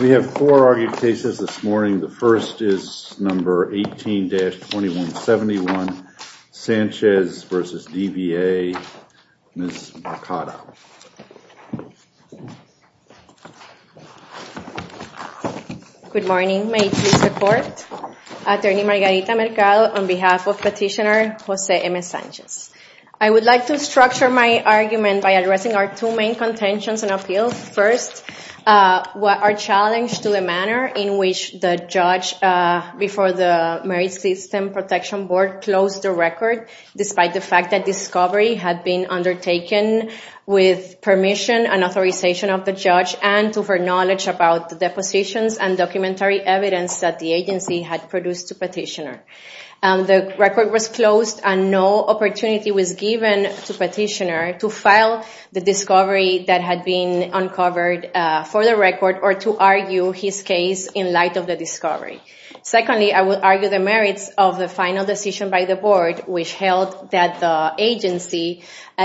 We have four argued cases this morning. The first is number 18-2171, Sanchez v. DVA, Ms. Mercado. Good morning, may it please the court. Attorney Margarita Mercado on behalf of petitioner Jose M. Sanchez. I would like to structure my argument by addressing our two main contentions and appeals. First, our challenge to the manner in which the judge before the Marriage System Protection Board closed the record, despite the fact that discovery had been undertaken with permission and authorization of the judge and to her knowledge about the depositions and documentary evidence that the agency had produced to petitioner. The record was closed and no opportunity was given to petitioner to file the discovery that had been uncovered for the record or to argue his case in light of the discovery. Secondly, I would argue the merits of the final decision by the board, which held that the agency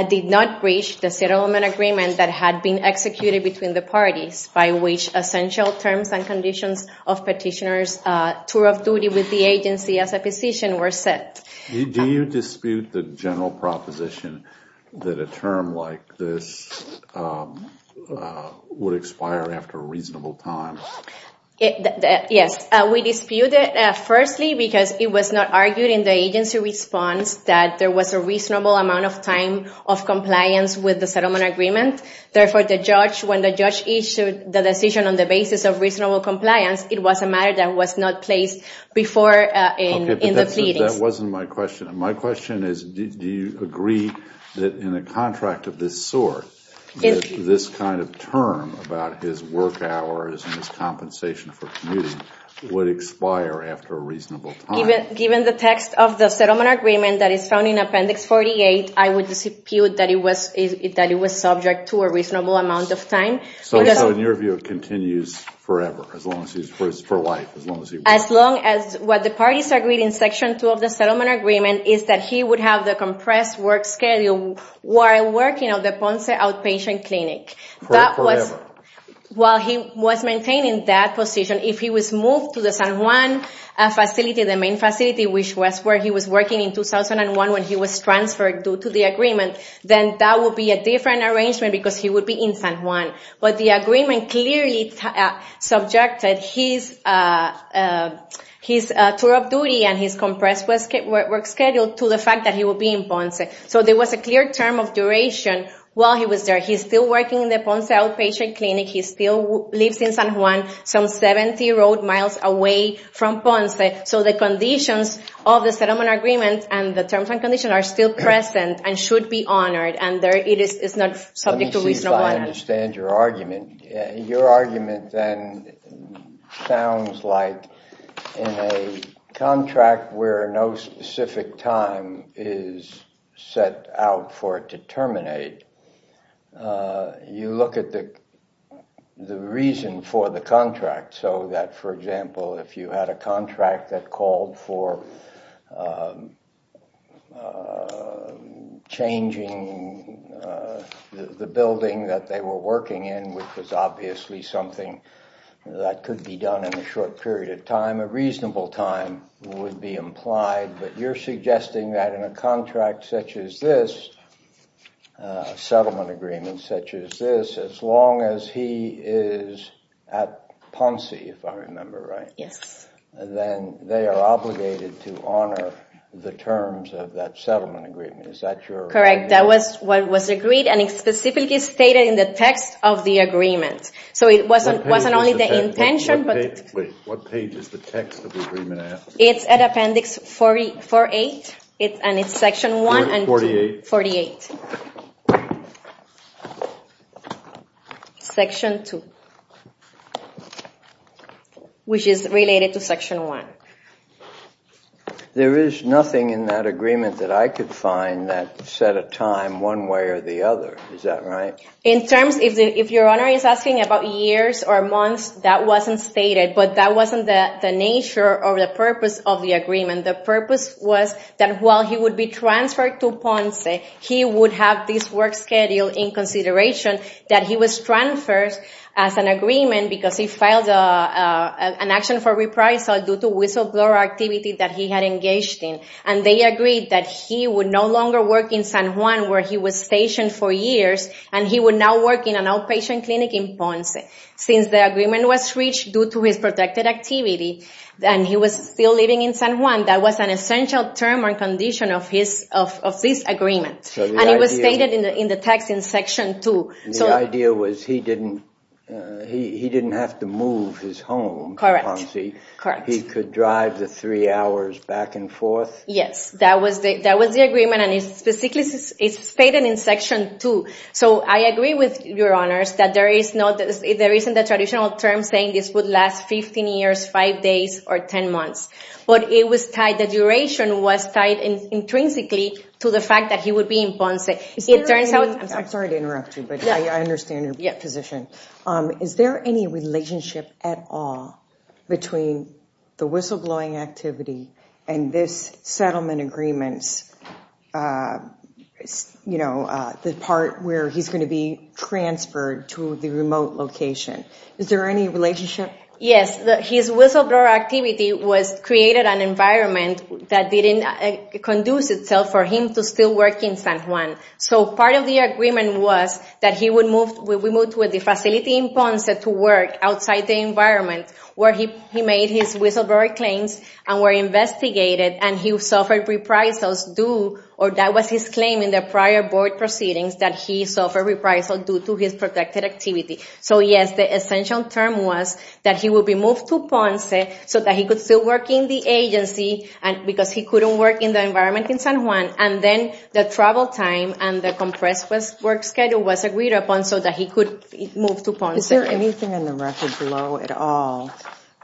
did not breach the settlement agreement that had been executed between the parties by which essential terms and conditions of petitioner's tour of duty with the agency as a petitioner were set. Do you dispute the general proposition that a term like this would expire after a reasonable time? Yes, we dispute it firstly because it was not argued in the agency response that there was a reasonable amount of time of compliance with the settlement agreement. Therefore, when the judge issued the decision on the basis of reasonable compliance, it was a matter that was not placed before in the pleadings. Okay, but that wasn't my question. My question is do you agree that in a contract of this sort, this kind of term about his work hours and his compensation for commuting would expire after a reasonable time? Given the text of the settlement agreement that is found in Appendix 48, I would dispute that it was subject to a reasonable amount of time. So, in your view, it continues forever, for life, as long as he works? As long as what the parties agreed in Section 2 of the settlement agreement is that he would have the compressed work schedule while working at the Ponce Outpatient Clinic. That was, while he was maintaining that position, if he was moved to the San Juan facility, the main facility, which was where he was working in 2001 when he was transferred due to the agreement, then that would be a different arrangement because he would be in San Juan. But the agreement clearly subjected his tour of duty and his compressed work schedule to the fact that he would be in Ponce. So, there was a clear term of duration while he was there. He's still working in the Ponce Outpatient Clinic. He still lives in San Juan, some 70 road miles away from Ponce. So, the conditions of the settlement agreement and the terms and conditions are still present and should be honored, and it is not subject to reasonable amount of time. Let me see if I understand your argument. Your argument then sounds like in a contract where no specific time is set out for it to terminate, you look at the reason for the changing the building that they were working in, which was obviously something that could be done in a short period of time. A reasonable time would be implied, but you're suggesting that in a contract such as this, a settlement agreement such as this, as long as he is at Ponce, if I remember right, then they are obligated to honor the terms of that settlement agreement. Is that your argument? Correct. That was what was agreed and specifically stated in the text of the agreement. So, it wasn't only the intention. Wait, what page is the text of the agreement at? It's at Appendix 48, and it's Section 1 and 2. 48? 48. Section 2, which is related to Section 1. There is nothing in that agreement that I could find that set a time one way or the other. Is that right? In terms, if your Honor is asking about years or months, that wasn't stated, but that wasn't the nature or the purpose of the agreement. The purpose was that while he would be transferred to Ponce, he would have this work schedule in consideration that he was transferred as an agreement because he filed an action for reprisal due to whistleblower activity that he had engaged in. And they agreed that he would no longer work in San Juan where he was stationed for years, and he would now work in an outpatient clinic in Ponce. Since the agreement was reached due to his protected activity and he was still living in San Juan, that was an essential term or condition of this agreement. And it was stated in the text in Section 2. The idea was he didn't have to move his home to Ponce. Correct. He could drive the three hours back and forth? Yes, that was the agreement, and it's specifically stated in Section 2. So I agree with your Honors that there isn't a traditional term saying this would last 15 years, 5 days, or 10 months. But it was tied, the duration was tied intrinsically to the fact that he would be in Ponce. I'm sorry to interrupt you, but I understand your position. Is there any relationship at all between the whistleblowing activity and this settlement agreements, you know, the part where he's going to be transferred to the remote location? Is there any relationship? His whistleblower activity created an environment that didn't conduce itself for him to still work in San Juan. So part of the agreement was that he would move to a facility in Ponce to work outside the environment where he made his whistleblower claims and were investigated, and he suffered reprisals due, or that was his claim in the prior board proceedings, that he suffered reprisals due to his protected activity. So yes, the essential term was that he would be moved to Ponce so that he could still work in the agency because he couldn't work in the environment in San Juan. And then the travel time and the compressed work schedule was agreed upon so that he could move to Ponce. Is there anything in the record below at all,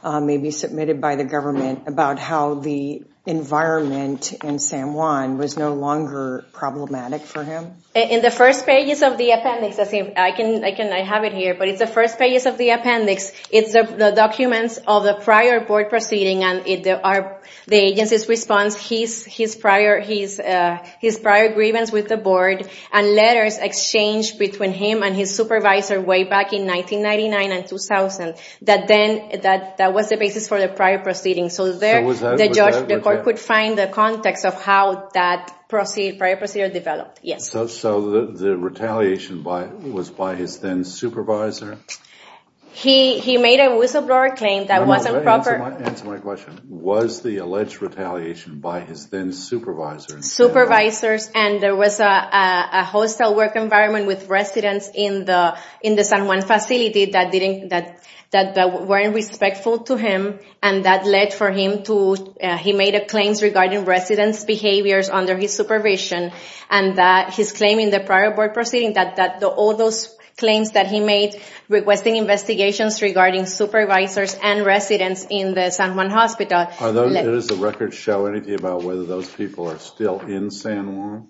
maybe submitted by the government, about how the environment in San Juan was no longer problematic for him? In the first pages of the appendix, I have it here, but it's the first pages of the appendix. It's the documents of the prior board proceeding and the agency's response, his prior grievance with the board, and letters exchanged between him and his supervisor way back in 1999 and 2000, that was the basis for the prior proceedings. So there, the court could find the context of how that prior procedure developed, yes. So the retaliation was by his then-supervisor? He made a whistleblower claim that wasn't proper. Answer my question. Was the alleged retaliation by his then-supervisor? Supervisors, and there was a hostile work environment with residents in the San Juan facility that weren't respectful to him, and that led for him to, he made a claim regarding residents' behaviors under his supervision, and that his claim in the prior board proceeding, that all those claims that he made requesting investigations regarding supervisors and residents in the San Juan hospital. Does the record show anything about whether those people are still in San Juan?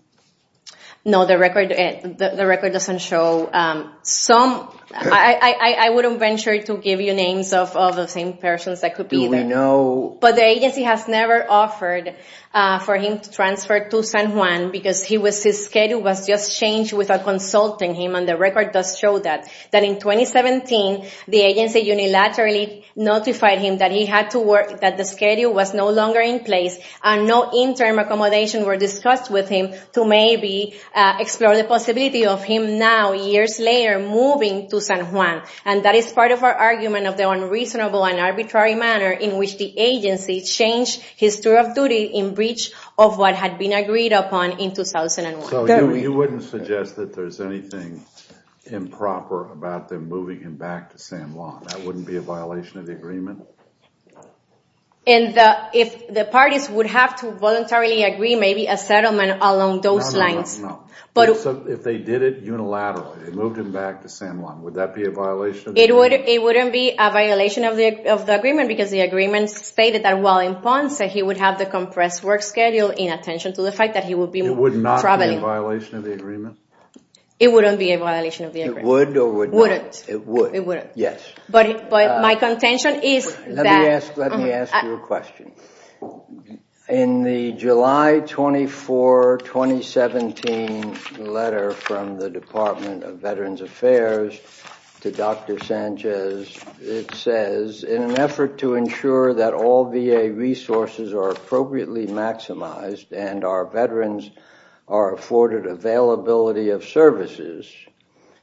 No, the record doesn't show. I wouldn't venture to give you names of the same persons that could be there. Do we know? But the agency has never offered for him to transfer to San Juan because he was, his schedule was just changed without consulting him, and the record does show that. That in 2017, the agency unilaterally notified him that he had to work, that the schedule was no longer in place, and no interim accommodations were discussed with him to maybe explore the possibility of him now, years later, moving to San Juan. And that is part of our argument of the unreasonable and arbitrary manner in which the agency changed his tour of duty in breach of what had been agreed upon in 2001. So you wouldn't suggest that there's anything improper about them moving him back to San Juan? That wouldn't be a violation of the agreement? In the, if the parties would have to voluntarily agree, maybe a settlement along those lines. No, no, no, no. But... So if they did it unilaterally, moved him back to San Juan, would that be a violation of the agreement? It wouldn't be a violation of the agreement because the agreement stated that while in Ponce, that he would have the compressed work schedule in attention to the fact that he would be traveling. It would not be a violation of the agreement? It wouldn't be a violation of the agreement. It would or would not? It wouldn't. It would. It wouldn't. Yes. But my contention is that... Let me ask you a question. In the July 24, 2017 letter from the Department of Veterans Affairs to Dr. Sanchez, it says, in an effort to ensure that all VA resources are appropriately maximized and our veterans are afforded availability of services,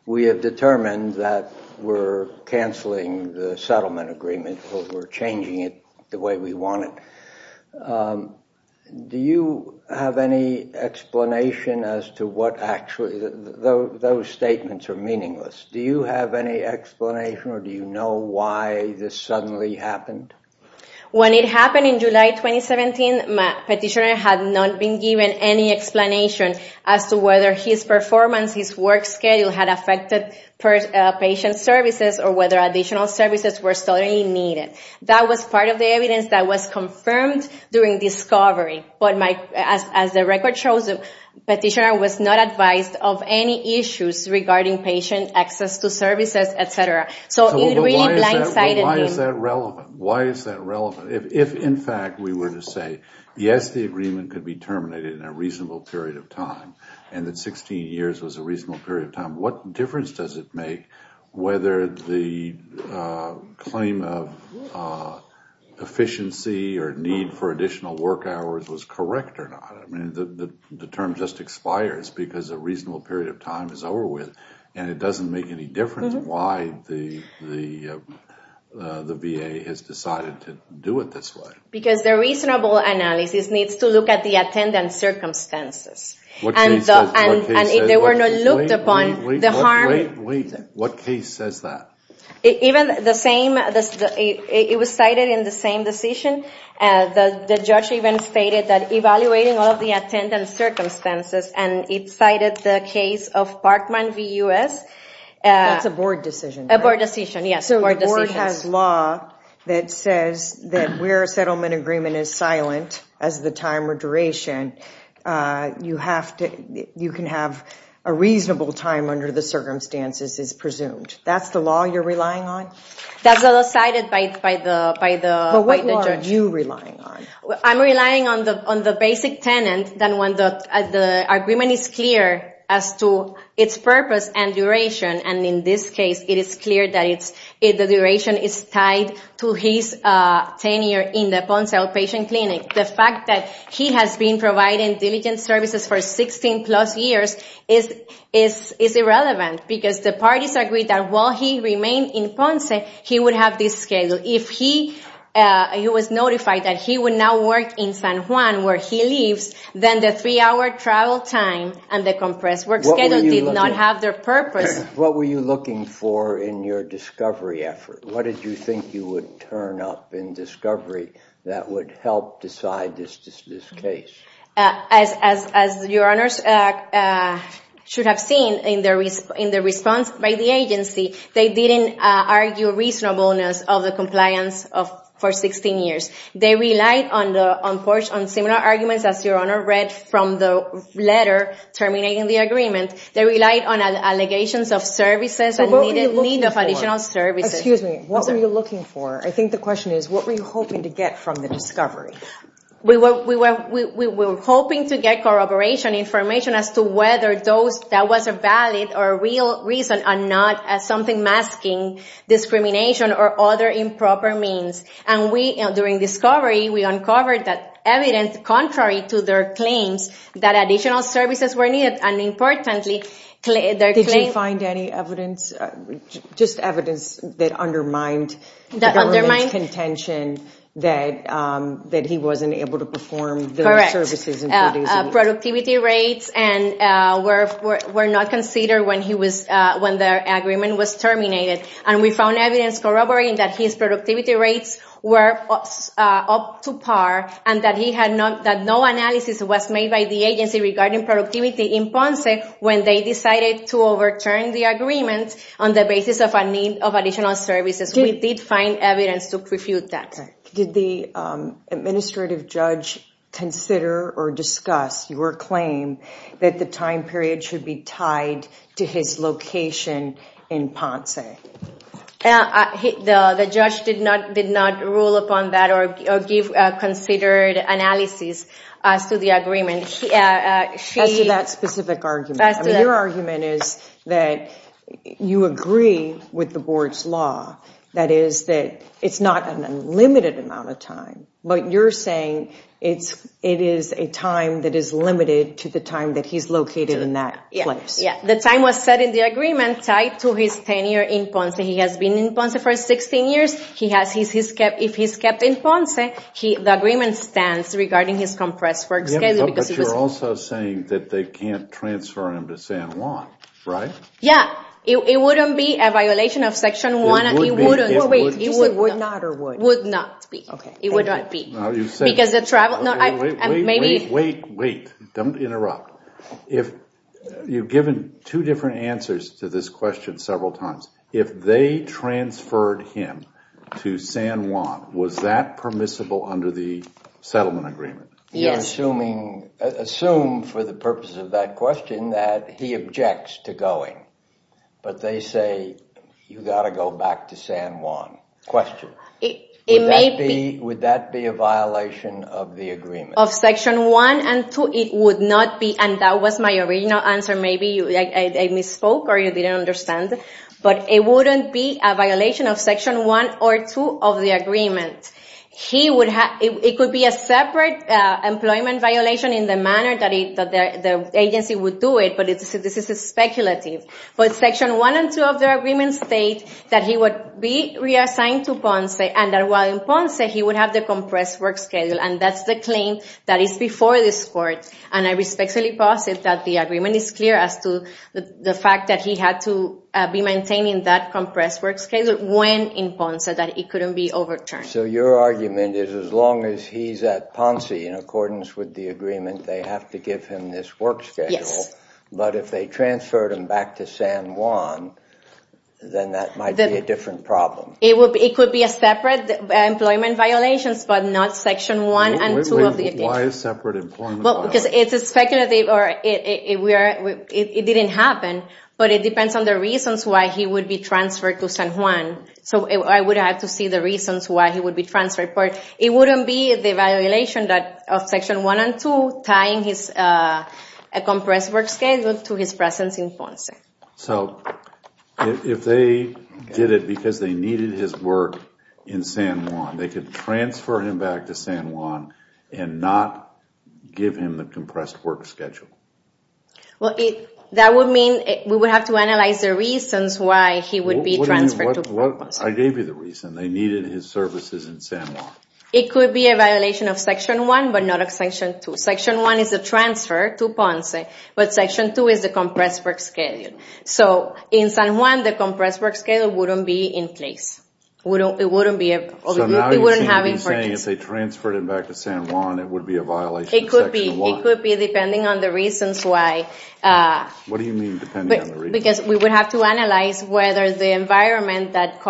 we have determined that we're canceling the settlement agreement or we're changing it the way we want it. Do you have any explanation as to what actually... Those statements are meaningless. Do you have any explanation or do you know why this suddenly happened? When it happened in July 2017, my petitioner had not been given any explanation as to whether his performance, his work schedule had affected patient services or whether additional services were suddenly needed. That was part of the evidence that was confirmed during discovery, but as the record shows, the petitioner was not advised of any issues regarding patient access to services, et cetera. So it really blindsided him. But why is that relevant? Why is that relevant? If, in fact, we were to say, yes, the agreement could be terminated in a reasonable period of time and that 16 years was a reasonable period of time, what difference does it make whether the claim of efficiency or need for additional work hours was correct or not? I mean, the term just expires because a reasonable period of time is over with and it doesn't make any difference why the VA has decided to do it this way. Because the reasonable analysis needs to look at the attendant circumstances. And if they were not looked upon, the harm... Wait, wait. What case says that? Even the same, it was cited in the same decision. The judge even stated that evaluating all of the attendant circumstances, and it cited the case of Parkman v. U.S. That's a board decision. A board decision, yes. So the board has law that says that where a settlement agreement is silent as the time or duration, you can have a reasonable time under the circumstances is presumed. That's the law you're relying on? That's the law cited by the judge. But what law are you relying on? I'm relying on the basic tenant that when the agreement is clear as to its purpose and duration. And in this case, it is clear that the duration is tied to his tenure in the bone cell patient clinic. The fact that he has been providing diligent services for 16 plus years is irrelevant. Because the parties agreed that while he remained in Ponce, he would have this schedule. If he was notified that he would now work in San Juan, where he lives, then the three-hour travel time and the compressed work schedule did not have their purpose. What were you looking for in your discovery effort? What did you think you would turn up in discovery that would help decide this case? As your honors should have seen in the response by the agency, they didn't argue reasonableness of the compliance for 16 years. They relied on similar arguments as your honor read from the letter terminating the agreement. They relied on allegations of services and need of additional services. What were you looking for? I think the question is, what were you hoping to get from the discovery? We were hoping to get corroboration information as to whether that was a valid or real reason and not something masking discrimination or other improper means. And during discovery, we uncovered that evidence contrary to their claims that additional services were needed. Did you find any evidence, just evidence that undermined the government's contention that he wasn't able to perform the services? Productivity rates were not considered when their agreement was terminated. And we found evidence corroborating that his productivity rates were up to par and that no analysis was made by the agency regarding productivity in Ponce when they decided to overturn the agreement on the basis of a need of additional services. We did find evidence to refute that. Did the administrative judge consider or discuss your claim that the time period should be tied to his location in Ponce? The judge did not rule upon that or give considered analysis as to the agreement. As to that specific argument. Your argument is that you agree with the board's law, that is, that it's not an unlimited amount of time, but you're saying it is a time that is limited to the time that he's located in that place. The time was set in the agreement tied to his tenure in Ponce. He has been in Ponce for 16 years. If he's kept in Ponce, the agreement stands regarding his compressed work schedule. But you're also saying that they can't transfer him to San Juan, right? Yeah. It wouldn't be a violation of Section 1. It would not be. Wait, wait, wait. Don't interrupt. You've given two different answers to this question several times. If they transferred him to San Juan, was that permissible under the settlement agreement? Yes. You're assuming, assume for the purpose of that question, that he objects to going. But they say, you've got to go back to San Juan. Question. It may be. Would that be a violation of the agreement? Of Section 1 and 2, it would not be. And that was my original answer. Maybe I misspoke or you didn't understand. But it wouldn't be a violation of Section 1 or 2 of the agreement. It could be a separate employment violation in the manner that the agency would do it. But this is speculative. But Section 1 and 2 of the agreement state that he would be reassigned to Ponce. And while in Ponce, he would have the compressed work schedule. And that's the claim that is before this court. And I respectfully posit that the agreement is clear as to the fact that he had to be maintaining that compressed work schedule when in Ponce. So that it couldn't be overturned. So your argument is as long as he's at Ponce in accordance with the agreement, they have to give him this work schedule. Yes. But if they transferred him back to San Juan, then that might be a different problem. It could be a separate employment violation, but not Section 1 and 2 of the agreement. Why a separate employment violation? Because it's speculative. It didn't happen. But it depends on the reasons why he would be transferred to San Juan. So I would have to see the reasons why he would be transferred. But it wouldn't be the violation of Section 1 and 2 tying his compressed work schedule to his presence in Ponce. So if they did it because they needed his work in San Juan, they could transfer him back to San Juan and not give him the compressed work schedule. Well, that would mean we would have to analyze the reasons why he would be transferred to Ponce. I gave you the reason. They needed his services in San Juan. It could be a violation of Section 1, but not of Section 2. Section 1 is the transfer to Ponce, but Section 2 is the compressed work schedule. So in San Juan, the compressed work schedule wouldn't be in place. It wouldn't have importance. So now you're saying if they transferred him back to San Juan, it would be a violation of Section 1? It could be, depending on the reasons why. What do you mean, depending on the reasons why? Because we would have to analyze whether the environment that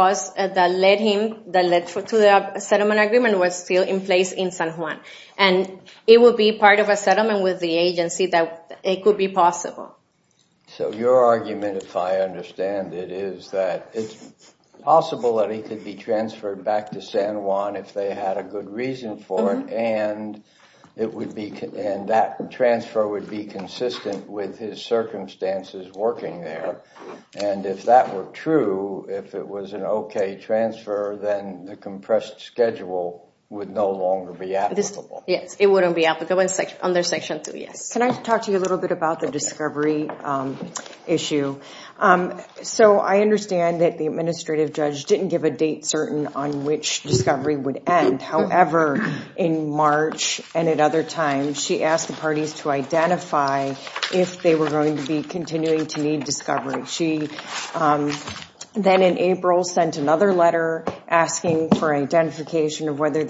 led him to the settlement agreement was still in place in San Juan. And it would be part of a settlement with the agency that it could be possible. So your argument, if I understand it, is that it's possible that he could be transferred back to San Juan if they had a good reason for it, and that transfer would be consistent with his circumstances working there. And if that were true, if it was an okay transfer, then the compressed schedule would no longer be applicable. Yes, it wouldn't be applicable under Section 2, yes. Can I talk to you a little bit about the discovery issue? So I understand that the administrative judge didn't give a date certain on which discovery would end. However, in March and at other times, she asked the parties to identify if they were going to be continuing to need discovery. She then in April sent another letter asking for identification of whether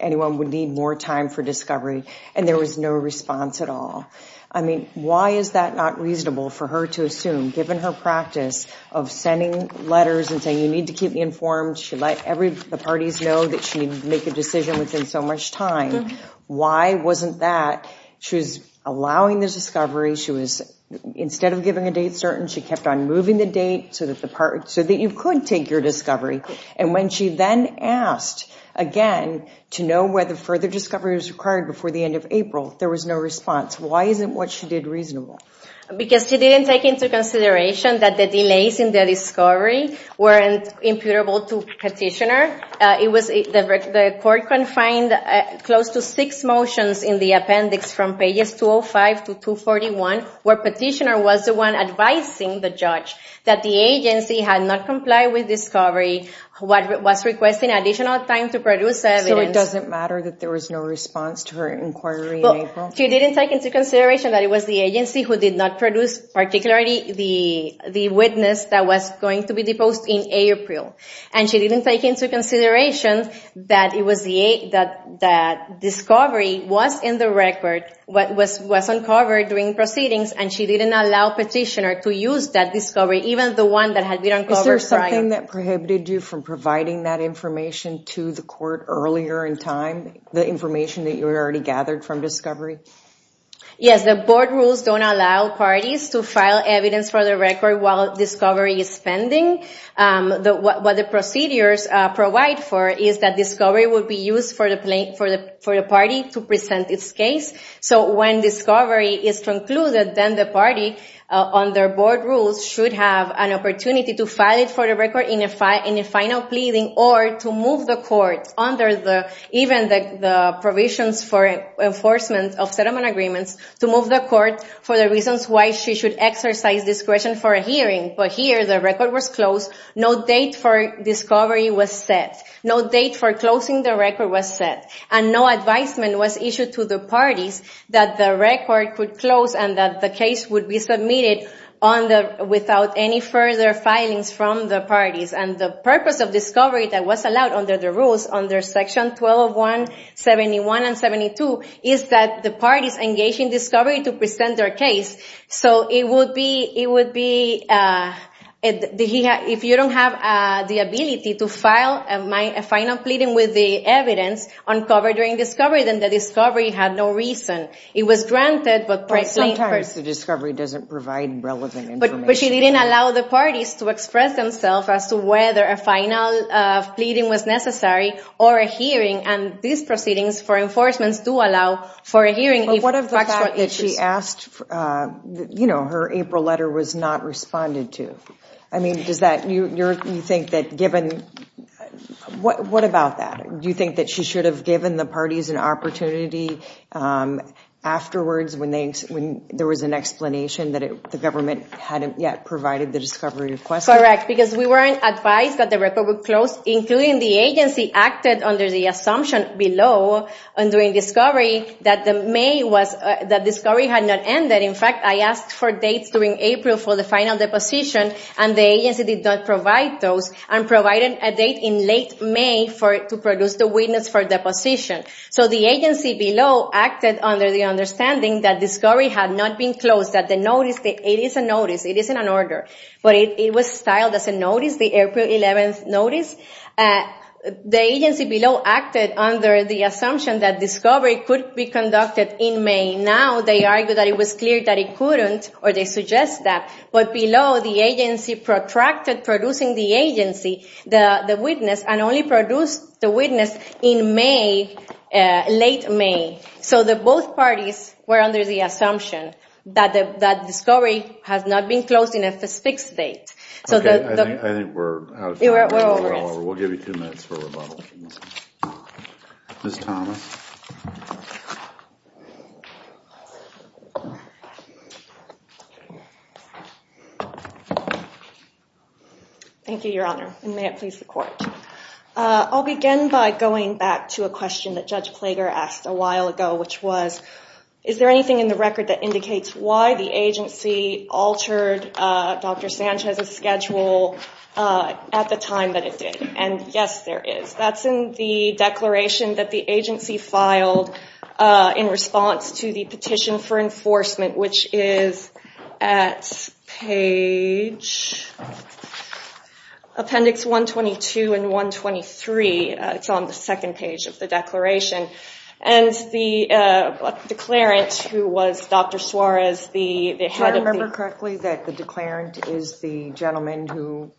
anyone would need more time for discovery. And there was no response at all. I mean, why is that not reasonable for her to assume, given her practice of sending letters and saying, you need to keep me informed, she let the parties know that she'd make a decision within so much time. Why wasn't that? She was allowing the discovery, she was, instead of giving a date certain, she kept on moving the date so that you could take your discovery. And when she then asked again to know whether further discovery was required before the end of April, there was no response. Why isn't what she did reasonable? Because she didn't take into consideration that the delays in the discovery weren't imputable to petitioner. The court confined close to six motions in the appendix from pages 205 to 241, where petitioner was the one advising the judge that the agency had not complied with discovery, was requesting additional time to produce evidence. So it doesn't matter that there was no response to her inquiry in April? She didn't take into consideration that it was the agency who did not produce, particularly the witness that was going to be deposed in April. And she didn't take into consideration that it was the, that discovery was in the record, was uncovered during proceedings, and she didn't allow petitioner to use that discovery, even the one that had been uncovered prior. Is there something that prohibited you from providing that information to the court earlier in time? The information that you already gathered from discovery? Yes, the board rules don't allow parties to file evidence for the record while discovery is pending. What the procedures provide for is that discovery would be used for the party to present its case. So when discovery is concluded, then the party, under board rules, should have an opportunity to file it for the record in a final pleading, or to move the court under even the provisions for enforcement of settlement agreements, to move the court for the reasons why she should exercise discretion for a hearing. But here, the record was closed. No date for discovery was set. No date for closing the record was set. And no advisement was issued to the parties that the record could close and that the case would be submitted on the, without any further filings from the parties. And the purpose of discovery that was allowed under the rules, under Section 1201, 71, and 72, is that the parties engage in discovery to present their case. So it would be, it would be, if you don't have the ability to file a final pleading with the evidence uncovered during discovery, then the discovery had no reason. It was granted, but... But sometimes the discovery doesn't provide relevant information. But she didn't allow the parties to express themselves as to whether a final pleading was necessary, or a hearing, and these proceedings for enforcement do allow for a hearing. But what of the fact that she asked, you know, her April letter was not responded to? I mean, does that, you think that given, what about that? Do you think that she should have given the parties an opportunity afterwards when there was an explanation that the government hadn't yet provided the discovery request? Correct. Because we weren't advised that the record would close, including the agency acted under the assumption below, during discovery, that the May was, that discovery had not ended. In fact, I asked for dates during April for the final deposition, and the agency did not provide those, and provided a date in late May for, to produce the witness for deposition. So the agency below acted under the understanding that discovery had not been closed, that the notice, it is a notice, it is in an order. The agency below acted under the assumption that discovery could be conducted in May. Now they argue that it was clear that it couldn't, or they suggest that. But below, the agency protracted producing the agency, the witness, and only produced the witness in May, late May. So both parties were under the assumption that discovery has not been closed in a fixed date. Okay, I think we're out of time. We're over it. We'll give you two minutes for rebuttals. Ms. Thomas? Thank you, Your Honor, and may it please the Court. I'll begin by going back to a question that Judge Plager asked a while ago, which was, is there anything in the record that indicates why the agency altered Dr. Sanchez's schedule at the time that it did? And yes, there is. That's in the declaration that the agency filed in response to the Petition for Enforcement, which is at page, Appendix 122 and 123. It's on the second page of the declaration. And the declarant, who was Dr. Suarez, the head of the- The head of the declarant is the gentleman who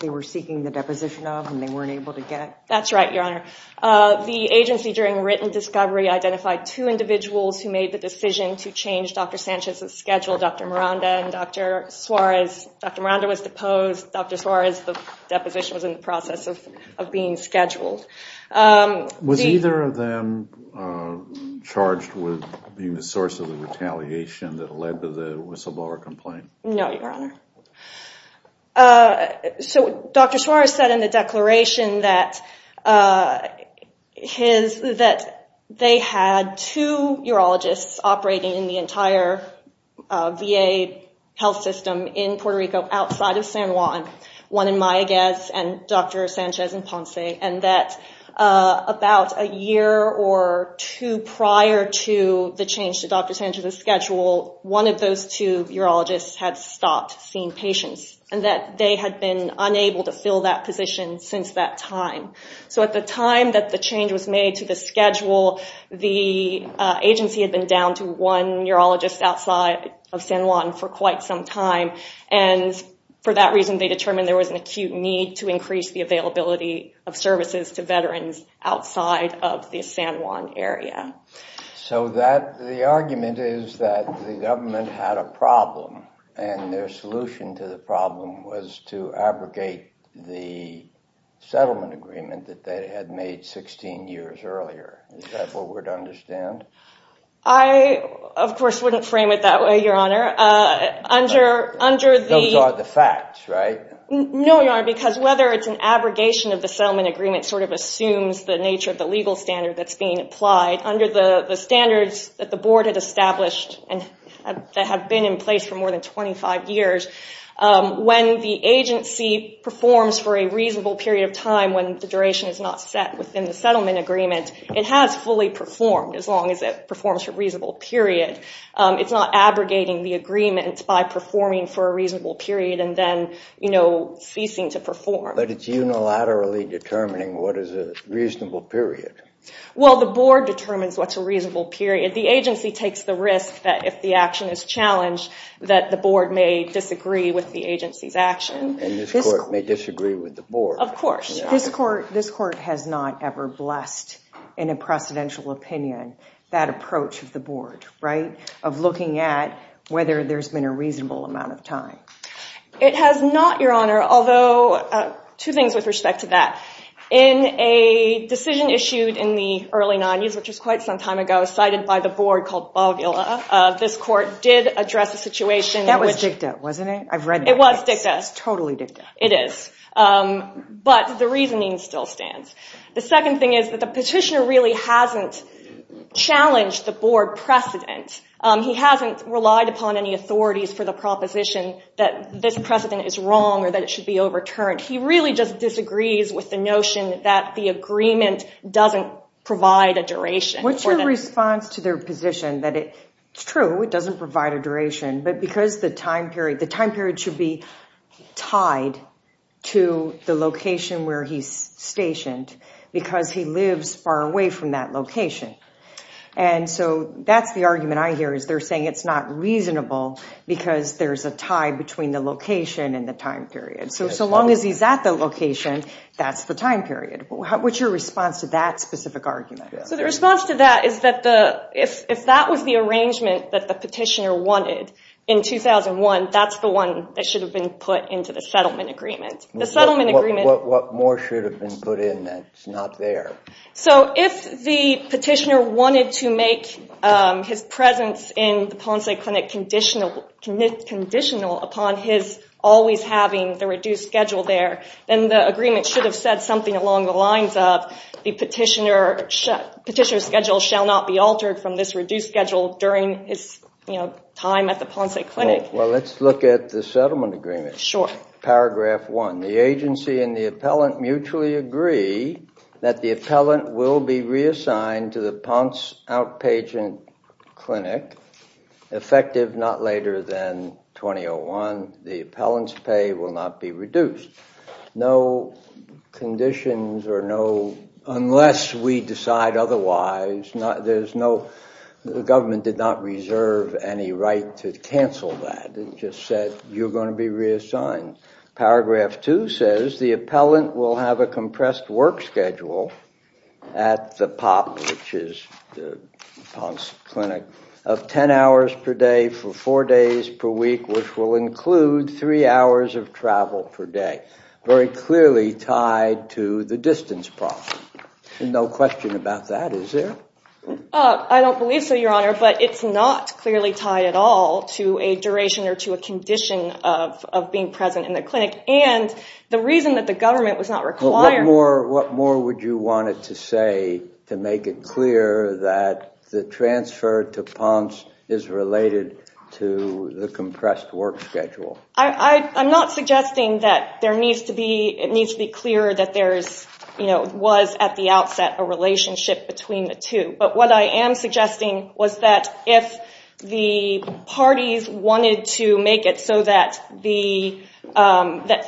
they were seeking the deposition of and they weren't able to get? That's right, Your Honor. The agency, during written discovery, identified two individuals who made the decision to change Dr. Sanchez's schedule, Dr. Miranda and Dr. Suarez. Dr. Miranda was deposed. Dr. Suarez, the deposition was in the process of being scheduled. Was either of them charged with being the source of the retaliation that led to the whistleblower complaint? No, Your Honor. Dr. Suarez said in the declaration that they had two urologists operating in the entire VA health system in Puerto Rico outside of San Juan, one in Mayaguez and Dr. Sanchez in Ponce, and that about a year or two prior to the change to Dr. Sanchez's schedule, one of those two urologists had stopped seeing patients and that they had been unable to fill that position since that time. So at the time that the change was made to the schedule, the agency had been down to one urologist outside of San Juan for quite some time and for that reason they determined there was an acute need to increase the availability of services to veterans outside of the San Juan area. So the argument is that the government had a problem and their solution to the problem was to abrogate the settlement agreement that they had made 16 years earlier. Is that what we're to understand? I, of course, wouldn't frame it that way, Your Honor. Those are the facts, right? No, Your Honor, because whether it's an abrogation of the settlement agreement sort of assumes the nature of the legal standard that's being applied under the standards that the board had established and that have been in place for more than 25 years. When the agency performs for a reasonable period of time when the duration is not set within the settlement agreement, it has fully performed as long as it performs for a reasonable period. It's not abrogating the agreement by performing for a reasonable period and then, you know, ceasing to perform. But it's unilaterally determining what is a reasonable period. Well, the board determines what's a reasonable period. The agency takes the risk that if the action is challenged that the board may disagree with the agency's action. And this court may disagree with the board. Of course. This court has not ever blessed in a precedential opinion that approach of the board, right? Of looking at whether there's been a reasonable amount of time. It has not, Your Honor, although two things with respect to that. In a decision issued in the early 90s, which was quite some time ago, cited by the board called Bogula, this court did address the situation. That was dicta, wasn't it? I've read that. It was dicta. It's totally dicta. It is. But the reasoning still stands. The second thing is that the petitioner really hasn't challenged the board precedent. He hasn't relied upon any authorities for the proposition that this precedent is wrong or that it should be overturned. He really just disagrees with the notion that the agreement doesn't provide a duration. What's your response to their position that it's true, it doesn't provide a duration, but because the time period should be tied to the location where he's stationed because he lives far away from that location. And so that's the argument I hear, is they're saying it's not reasonable because there's a tie between the location and the time period. So long as he's at the location, that's the time period. What's your response to that specific argument? The response to that is that if that was the arrangement that the petitioner wanted in 2001, that's the one that should have been put into the settlement agreement. What more should have been put in that's not there? If the petitioner wanted to make his presence in the Ponce Clinic conditional upon his always having the reduced schedule there, then the agreement should have said something along the lines of the petitioner's schedule shall not be altered from this reduced schedule during his time at the Ponce Clinic. Well, let's look at the settlement agreement. Sure. Paragraph 1. The agency and the appellant mutually agree that the appellant will be reassigned to the Ponce Outpatient Clinic, effective not later than 2001. The appellant's pay will not be reduced. No conditions or no, unless we decide otherwise, there's no, the government did not reserve any right to cancel that. It just said you're going to be reassigned. Paragraph 2 says the appellant will have a compressed work schedule at the POP, which is the Ponce Clinic, of 10 hours per day for four days per week, which will include three hours of travel per day, very clearly tied to the distance problem. And no question about that, is there? I don't believe so, Your Honor, but it's not clearly tied at all to a duration or to a condition of being present in the clinic. And the reason that the government was not requiring... What more would you want to say to make it clear that the transfer to Ponce is related to the compressed work schedule? I'm not suggesting that there needs to be, it needs to be clear that there was at the outset a relationship between the two. But what I am suggesting was that if the parties wanted to make it so that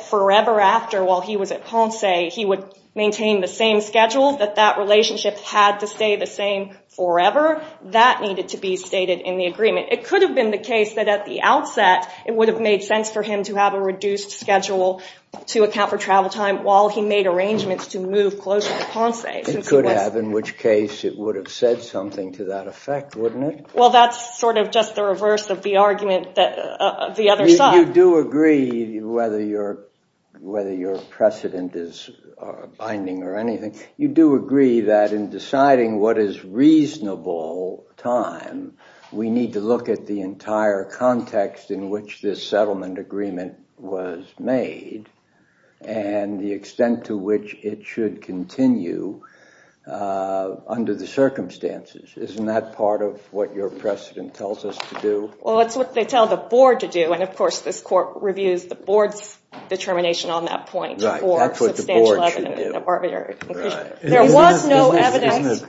forever after, while he was at Ponce, he would maintain the same schedule, that that relationship had to stay the same forever, that needed to be stated in the agreement. It could have been the case that at the outset it would have made sense for him to have a reduced schedule to account for travel time while he made arrangements to move closer to Ponce. It could have, in which case it would have said something to that effect, wouldn't it? Well, that's sort of just the reverse of the argument of the other side. You do agree, whether your precedent is binding or anything, you do agree that in deciding what is reasonable time, we need to look at the entire context in which this settlement agreement was made and the extent to which it should continue under the circumstances. Isn't that part of what your precedent tells us to do? Well, it's what they tell the board to do, and of course this court reviews the board's determination on that point. Right, that's what the board should do. There was no evidence,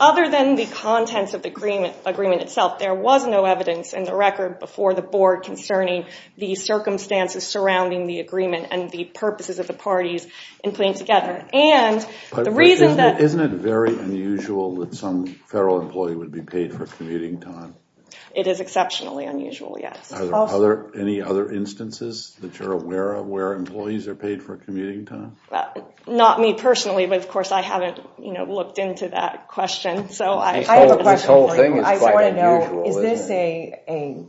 other than the contents of the agreement itself, there was no evidence in the record before the board concerning the circumstances surrounding the agreement and the purposes of the parties in putting together. But isn't it very unusual that some federal employee would be paid for commuting time? It is exceptionally unusual, yes. Are there any other instances that you're aware of where employees are paid for commuting time? Not me personally, but of course I haven't looked into that question. I have a question for you. I want to know, is this a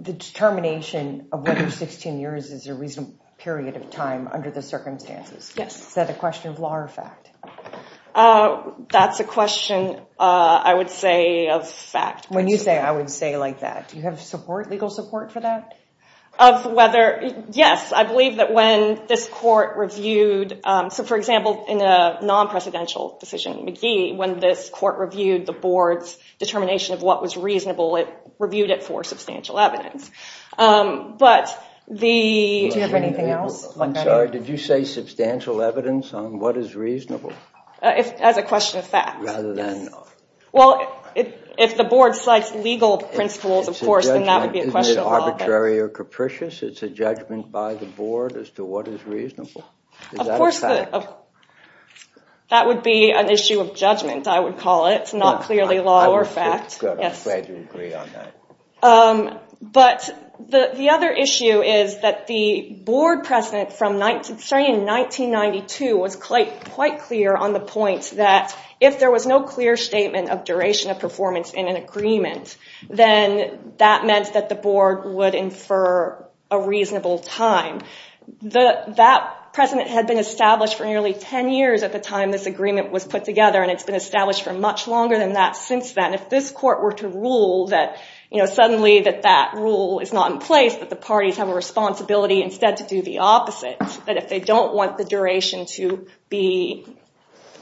determination of whether 16 years is a reasonable period of time under the circumstances? Yes. Is that a question of law or fact? That's a question, I would say, of fact. When you say, I would say, like that, do you have support, legal support for that? Of whether, yes, I believe that when this court reviewed, so for example, in a non-presidential decision, McGee, when this court reviewed the board's determination of what was reasonable, it reviewed it for substantial evidence. Do you have anything else? I'm sorry, did you say substantial evidence on what is reasonable? As a question of fact, yes. Well, if the board cites legal principles, of course, then that would be a question of law. Isn't it arbitrary or capricious? It's a judgment by the board as to what is reasonable? Is that a fact? That would be an issue of judgment, I would call it. It's not clearly law or fact. I'm glad you agree on that. But the other issue is that the board president, starting in 1992, was quite clear on the point that if there was no clear statement of duration of performance in an agreement, then that meant that the board would infer a reasonable time. That precedent had been established for nearly 10 years at the time this agreement was put together. And it's been established for much longer than that since then. If this court were to rule that suddenly that rule is not in place, that the parties have a responsibility instead to do the opposite, that if they don't want the duration to be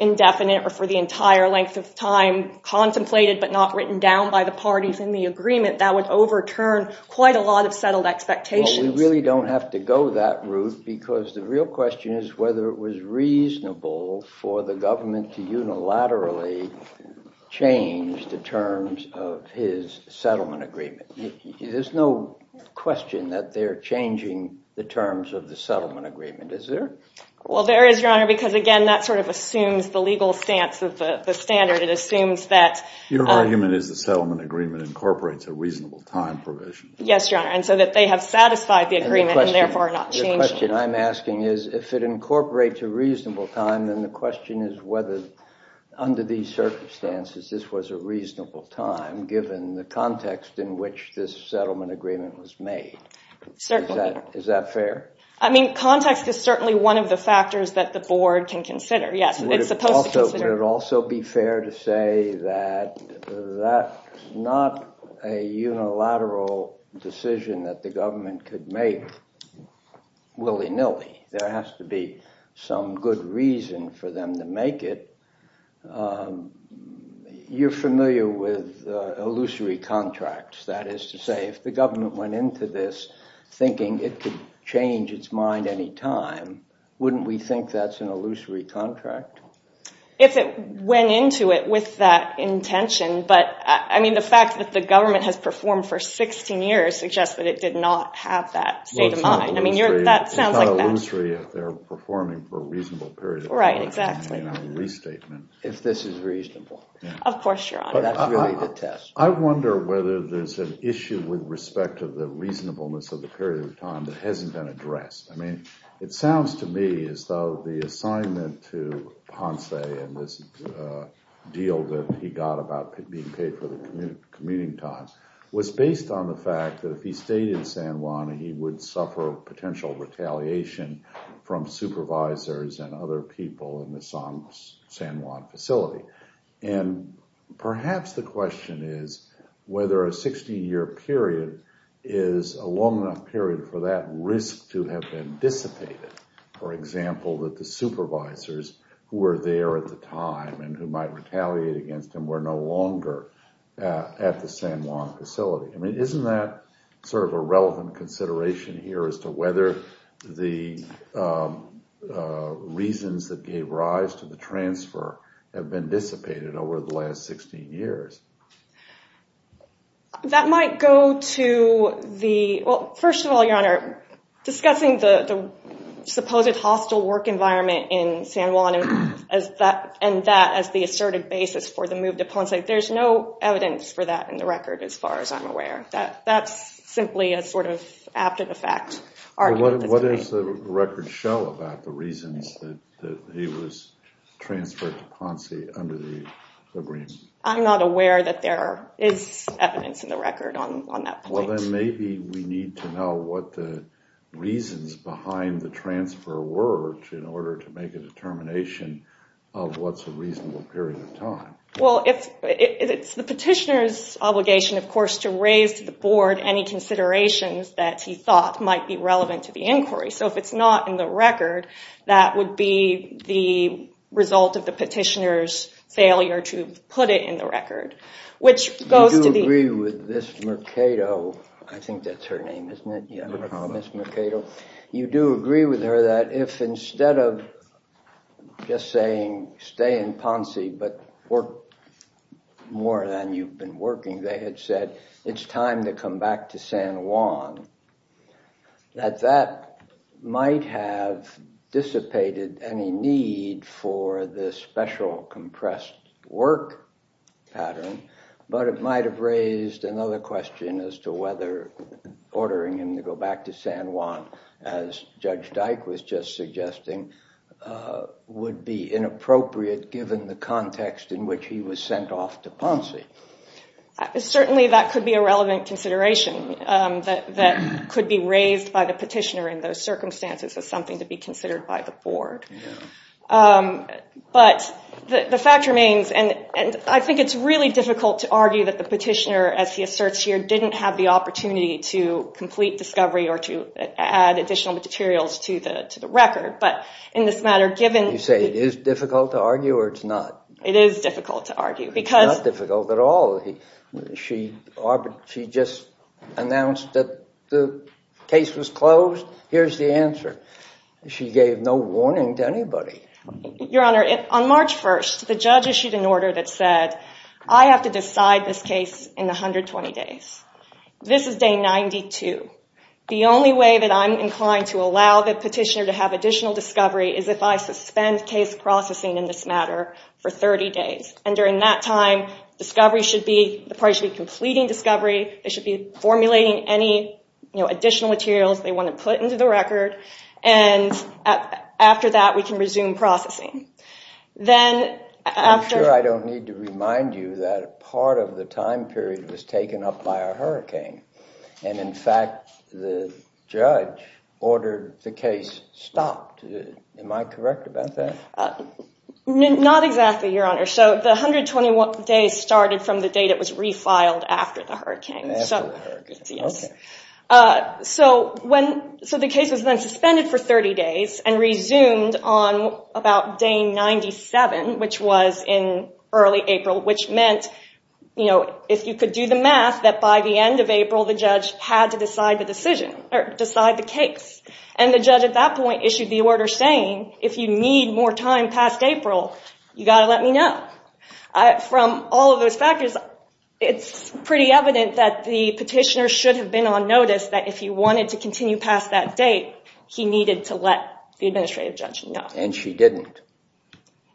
indefinite or for the entire length of time contemplated but not written down by the parties in the agreement, that would overturn quite a lot of settled expectations. Well, we really don't have to go that route because the real question is whether it was reasonable for the government to unilaterally change the terms of his settlement agreement. There's no question that they're changing the terms of the settlement agreement, is there? Well, there is, Your Honor, because again, that sort of assumes the legal stance of the standard. It assumes that- Your argument is the settlement agreement incorporates a reasonable time provision. Yes, Your Honor, and so that they have satisfied the agreement and therefore are not changing it. The question I'm asking is if it incorporates a reasonable time, then the question is whether, under these circumstances, this was a reasonable time given the context in which this settlement agreement was made. Certainly. Is that fair? I mean, context is certainly one of the factors that the board can consider. Yes, it's supposed to consider- Would it also be fair to say that that's not a unilateral decision that the government could make willy-nilly? There has to be some good reason for them to make it. You're familiar with illusory contracts, that is to say, if the government went into this thinking it could change its mind any time, wouldn't we think that's an illusory contract? If it went into it with that intention, but, I mean, the fact that the government has performed for 16 years suggests that it did not have that state of mind. I mean, that sounds like- It's not illusory if they're performing for a reasonable period of time. Right, exactly. If this is reasonable. Of course, Your Honor, that's really the test. I wonder whether there's an issue with respect to the reasonableness of the period of time that hasn't been addressed. I mean, it sounds to me as though the assignment to Ponce and this deal that he got about being paid for the commuting time was based on the fact that if he stayed in San Juan, he would suffer potential retaliation from supervisors and other people in the San Juan facility. And perhaps the question is whether a 16-year period is a long enough period for that risk to have been dissipated. For example, that the supervisors who were there at the time and who might retaliate against him were no longer at the San Juan facility. I mean, isn't that sort of a relevant consideration here as to whether the reasons that gave rise to the transfer have been dissipated over the last 16 years? That might go to the... Well, first of all, Your Honor, discussing the supposed hostile work environment in San Juan and that as the assertive basis for the move to Ponce, there's no evidence for that in the record as far as I'm aware. That's simply a sort of after-the-fact argument. What does the record show about the reasons that he was transferred to Ponce under the agreement? I'm not aware that there is evidence in the record on that point. Well, then maybe we need to know what the reasons behind the transfer were in order to make a determination of what's a reasonable period of time. Well, it's the petitioner's obligation, of course, to raise to the Board any considerations that he thought might be relevant to the inquiry. So if it's not in the record, that would be the result of the petitioner's failure to put it in the record, which goes to the... Do you agree with Ms. Mercado? I think that's her name, isn't it? You do agree with her that if instead of just saying, stay in Ponce but work more than you've been working, they had said, it's time to come back to San Juan, that that might have dissipated any need for this special compressed work pattern, but it might have raised another question as to whether ordering him to go back to San Juan, as Judge Dyke was just suggesting, would be inappropriate given the context in which he was sent off to Ponce. Certainly that could be a relevant consideration that could be raised by the petitioner in those circumstances as something to be considered by the board. But the fact remains, and I think it's really difficult to argue that the petitioner, as he asserts here, didn't have the opportunity to complete discovery or to add additional materials to the record, but in this matter, given... You say it is difficult to argue, or it's not? It is difficult to argue, because... It's not difficult at all. She just announced that the case was closed. Here's the answer. She gave no warning to anybody. Your Honor, on March 1st, the judge issued an order that said I have to decide this case in 120 days. This is day 92. The only way that I'm inclined to allow the petitioner to have additional discovery is if I suspend case processing in this matter for 30 days. And during that time, the parties should be completing discovery, they should be formulating any additional materials they want to put into the record, and after that, we can resume processing. Then... I'm sure I don't need to remind you that part of the time period was taken up by a hurricane. And in fact, the judge ordered the case stopped. Am I correct about that? Not exactly, Your Honor. So the 121 days started from the date it was refiled after the hurricane. So the case was then suspended for 30 days and resumed on about day 97, which was in early April, which meant if you could do the math, that by the end of April, the judge had to decide the decision, or decide the case. And the judge at that point issued the order saying, if you need more time past April, you've got to let me know. From all of those factors, it's pretty evident that the petitioner should have been on notice that if he wanted to continue past that date, he needed to let the administrative judge know. And she didn't.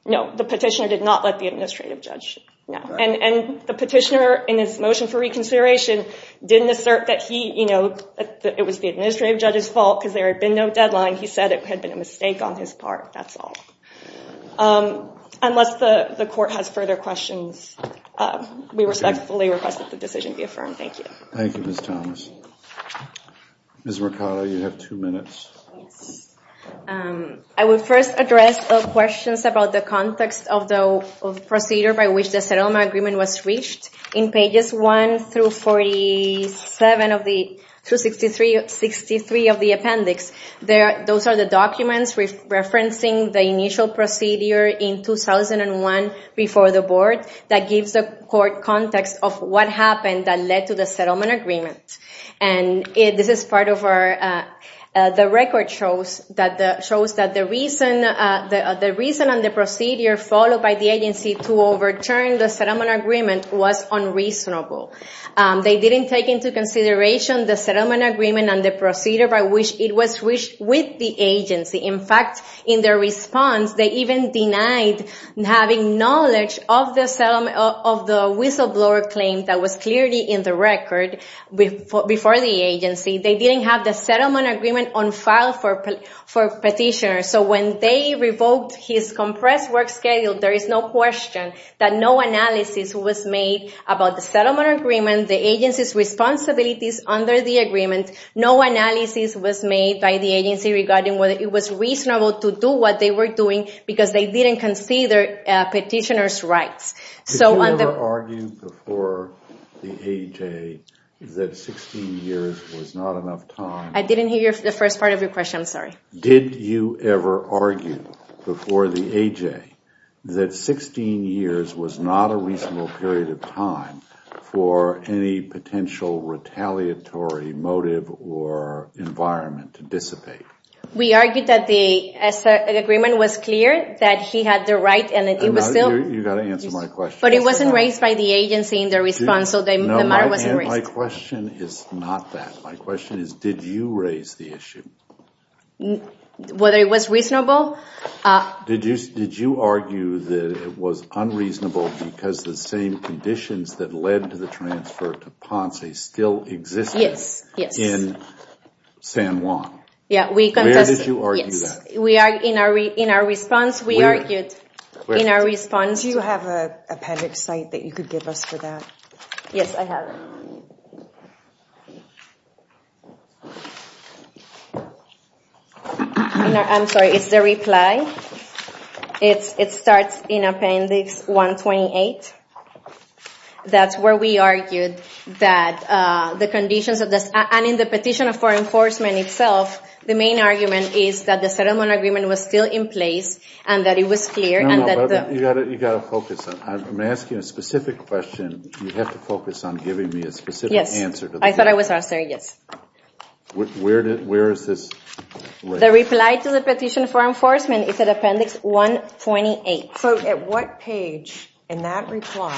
No, the petitioner did not let the administrative judge know. And the petitioner in his motion for reconsideration didn't assert that it was the administrative judge's fault because there had been no deadline. He said it had been a mistake on his part. That's all. Unless the court has further questions, we respectfully request that the decision be affirmed. Thank you. Thank you, Ms. Thomas. Ms. Mercado, you have two minutes. I would first address the questions about the context of the procedure by which the Seroma Agreement was reached. In pages 1 through 47 of the... Those are the documents referencing the initial procedure in 2001 before the board that gives the court context of what happened that led to the Settlement Agreement. And this is part of our... The record shows that the reason and the procedure followed by the agency to overturn the Settlement Agreement was unreasonable. They didn't take into consideration the Settlement Agreement and the procedure by which it was reached with the agency. In fact, in their response, they even denied having knowledge of the whistleblower claim that was clearly in the record before the agency. They didn't have the Settlement Agreement on file for petitioners. So when they revoked his compressed work schedule, there is no question that no analysis was made about the Settlement Agreement, the agency's responsibilities under the agreement. No analysis was made by the agency regarding whether it was reasonable to do what they were doing because they didn't consider petitioners' rights. So on the... Did you ever argue before the AJ that 16 years was not enough time... I didn't hear the first part of your question. I'm sorry. Did you ever argue before the AJ that 16 years was not a reasonable period of time for any potential retaliatory motive or environment to dissipate? We argued that the Settlement Agreement was clear, that he had the right and it was still... You've got to answer my question. But it wasn't raised by the agency in their response, so the matter wasn't raised. My question is not that. My question is, did you raise the issue? Whether it was reasonable? Did you argue that it was unreasonable because the same conditions that led to the transfer to Ponce still existed in San Juan? Where did you argue that? In our response, we argued in our response... Do you have an appendix site that you could give us for that? Yes, I have it. I'm sorry, it's the reply. It starts in Appendix 128. That's where we argued that the conditions of this, and in the Petition of Foreign Enforcement itself, the main argument is that the Settlement Agreement was still in place and that it was clear and that the... No, no, but you've got to focus on... I'm asking a specific question. You have to focus on giving me a specific answer to the question. Yes. I thought I was asked there. Yes. Where is this? The reply to the Petition of Foreign Enforcement is at what page in that reply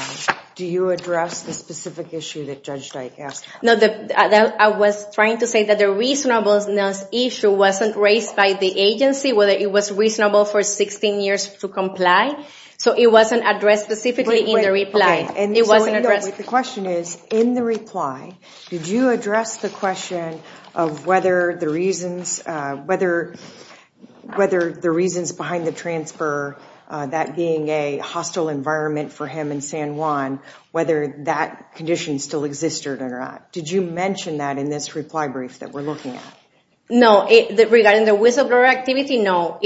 do you address the specific issue that Judge Dyke asked? I was trying to say that the reasonableness issue wasn't raised by the agency, whether it was reasonable for 16 years to comply, so it wasn't addressed specifically in the reply. The question is, in the reply, did you address the question of whether the reasons behind the transfer, that being a hostile environment for him in San Juan, whether that condition still existed or not? Did you mention that in this reply brief that we're looking at? No. Regarding the whistleblower activity, no.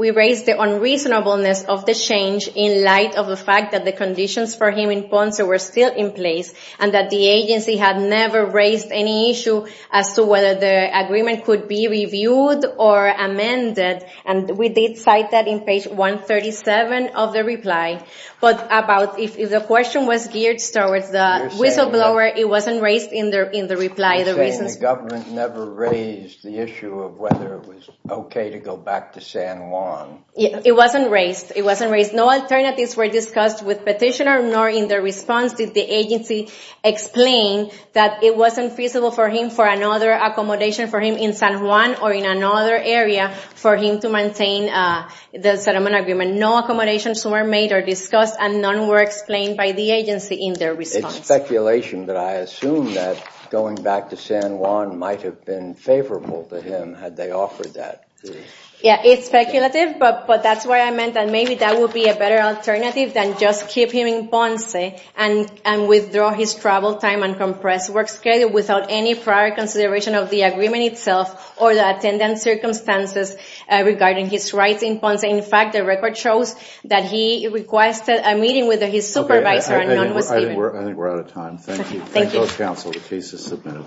We raised the unreasonableness of the change in light of the fact that the conditions for him in Ponce were still in place and that the agency had never raised any issue as to whether the agreement could be reviewed or not. We did cite that in page 137 of the reply, but if the question was geared towards the whistleblower, it wasn't raised in the reply. You're saying the government never raised the issue of whether it was okay to go back to San Juan. It wasn't raised. No alternatives were discussed with the petitioner, nor in the response did the agency explain that it wasn't feasible for him for another accommodation for him in San Juan or in another area for him to maintain the settlement agreement. No accommodations were made or discussed and none were explained by the agency in their response. It's speculation that I assume that going back to San Juan might have been favorable to him had they offered that. Yeah, it's speculative, but that's why I meant that maybe that would be a better alternative than just keep him in Ponce and withdraw his travel time and compressed work schedule without any prior consideration of the agreement itself or the attendant circumstances regarding his rights in Ponce. In fact, the record shows that he requested a meeting with his supervisor and none was given. I think we're out of time. Thank you. Thank you. Thank those counsel. The case is submitted.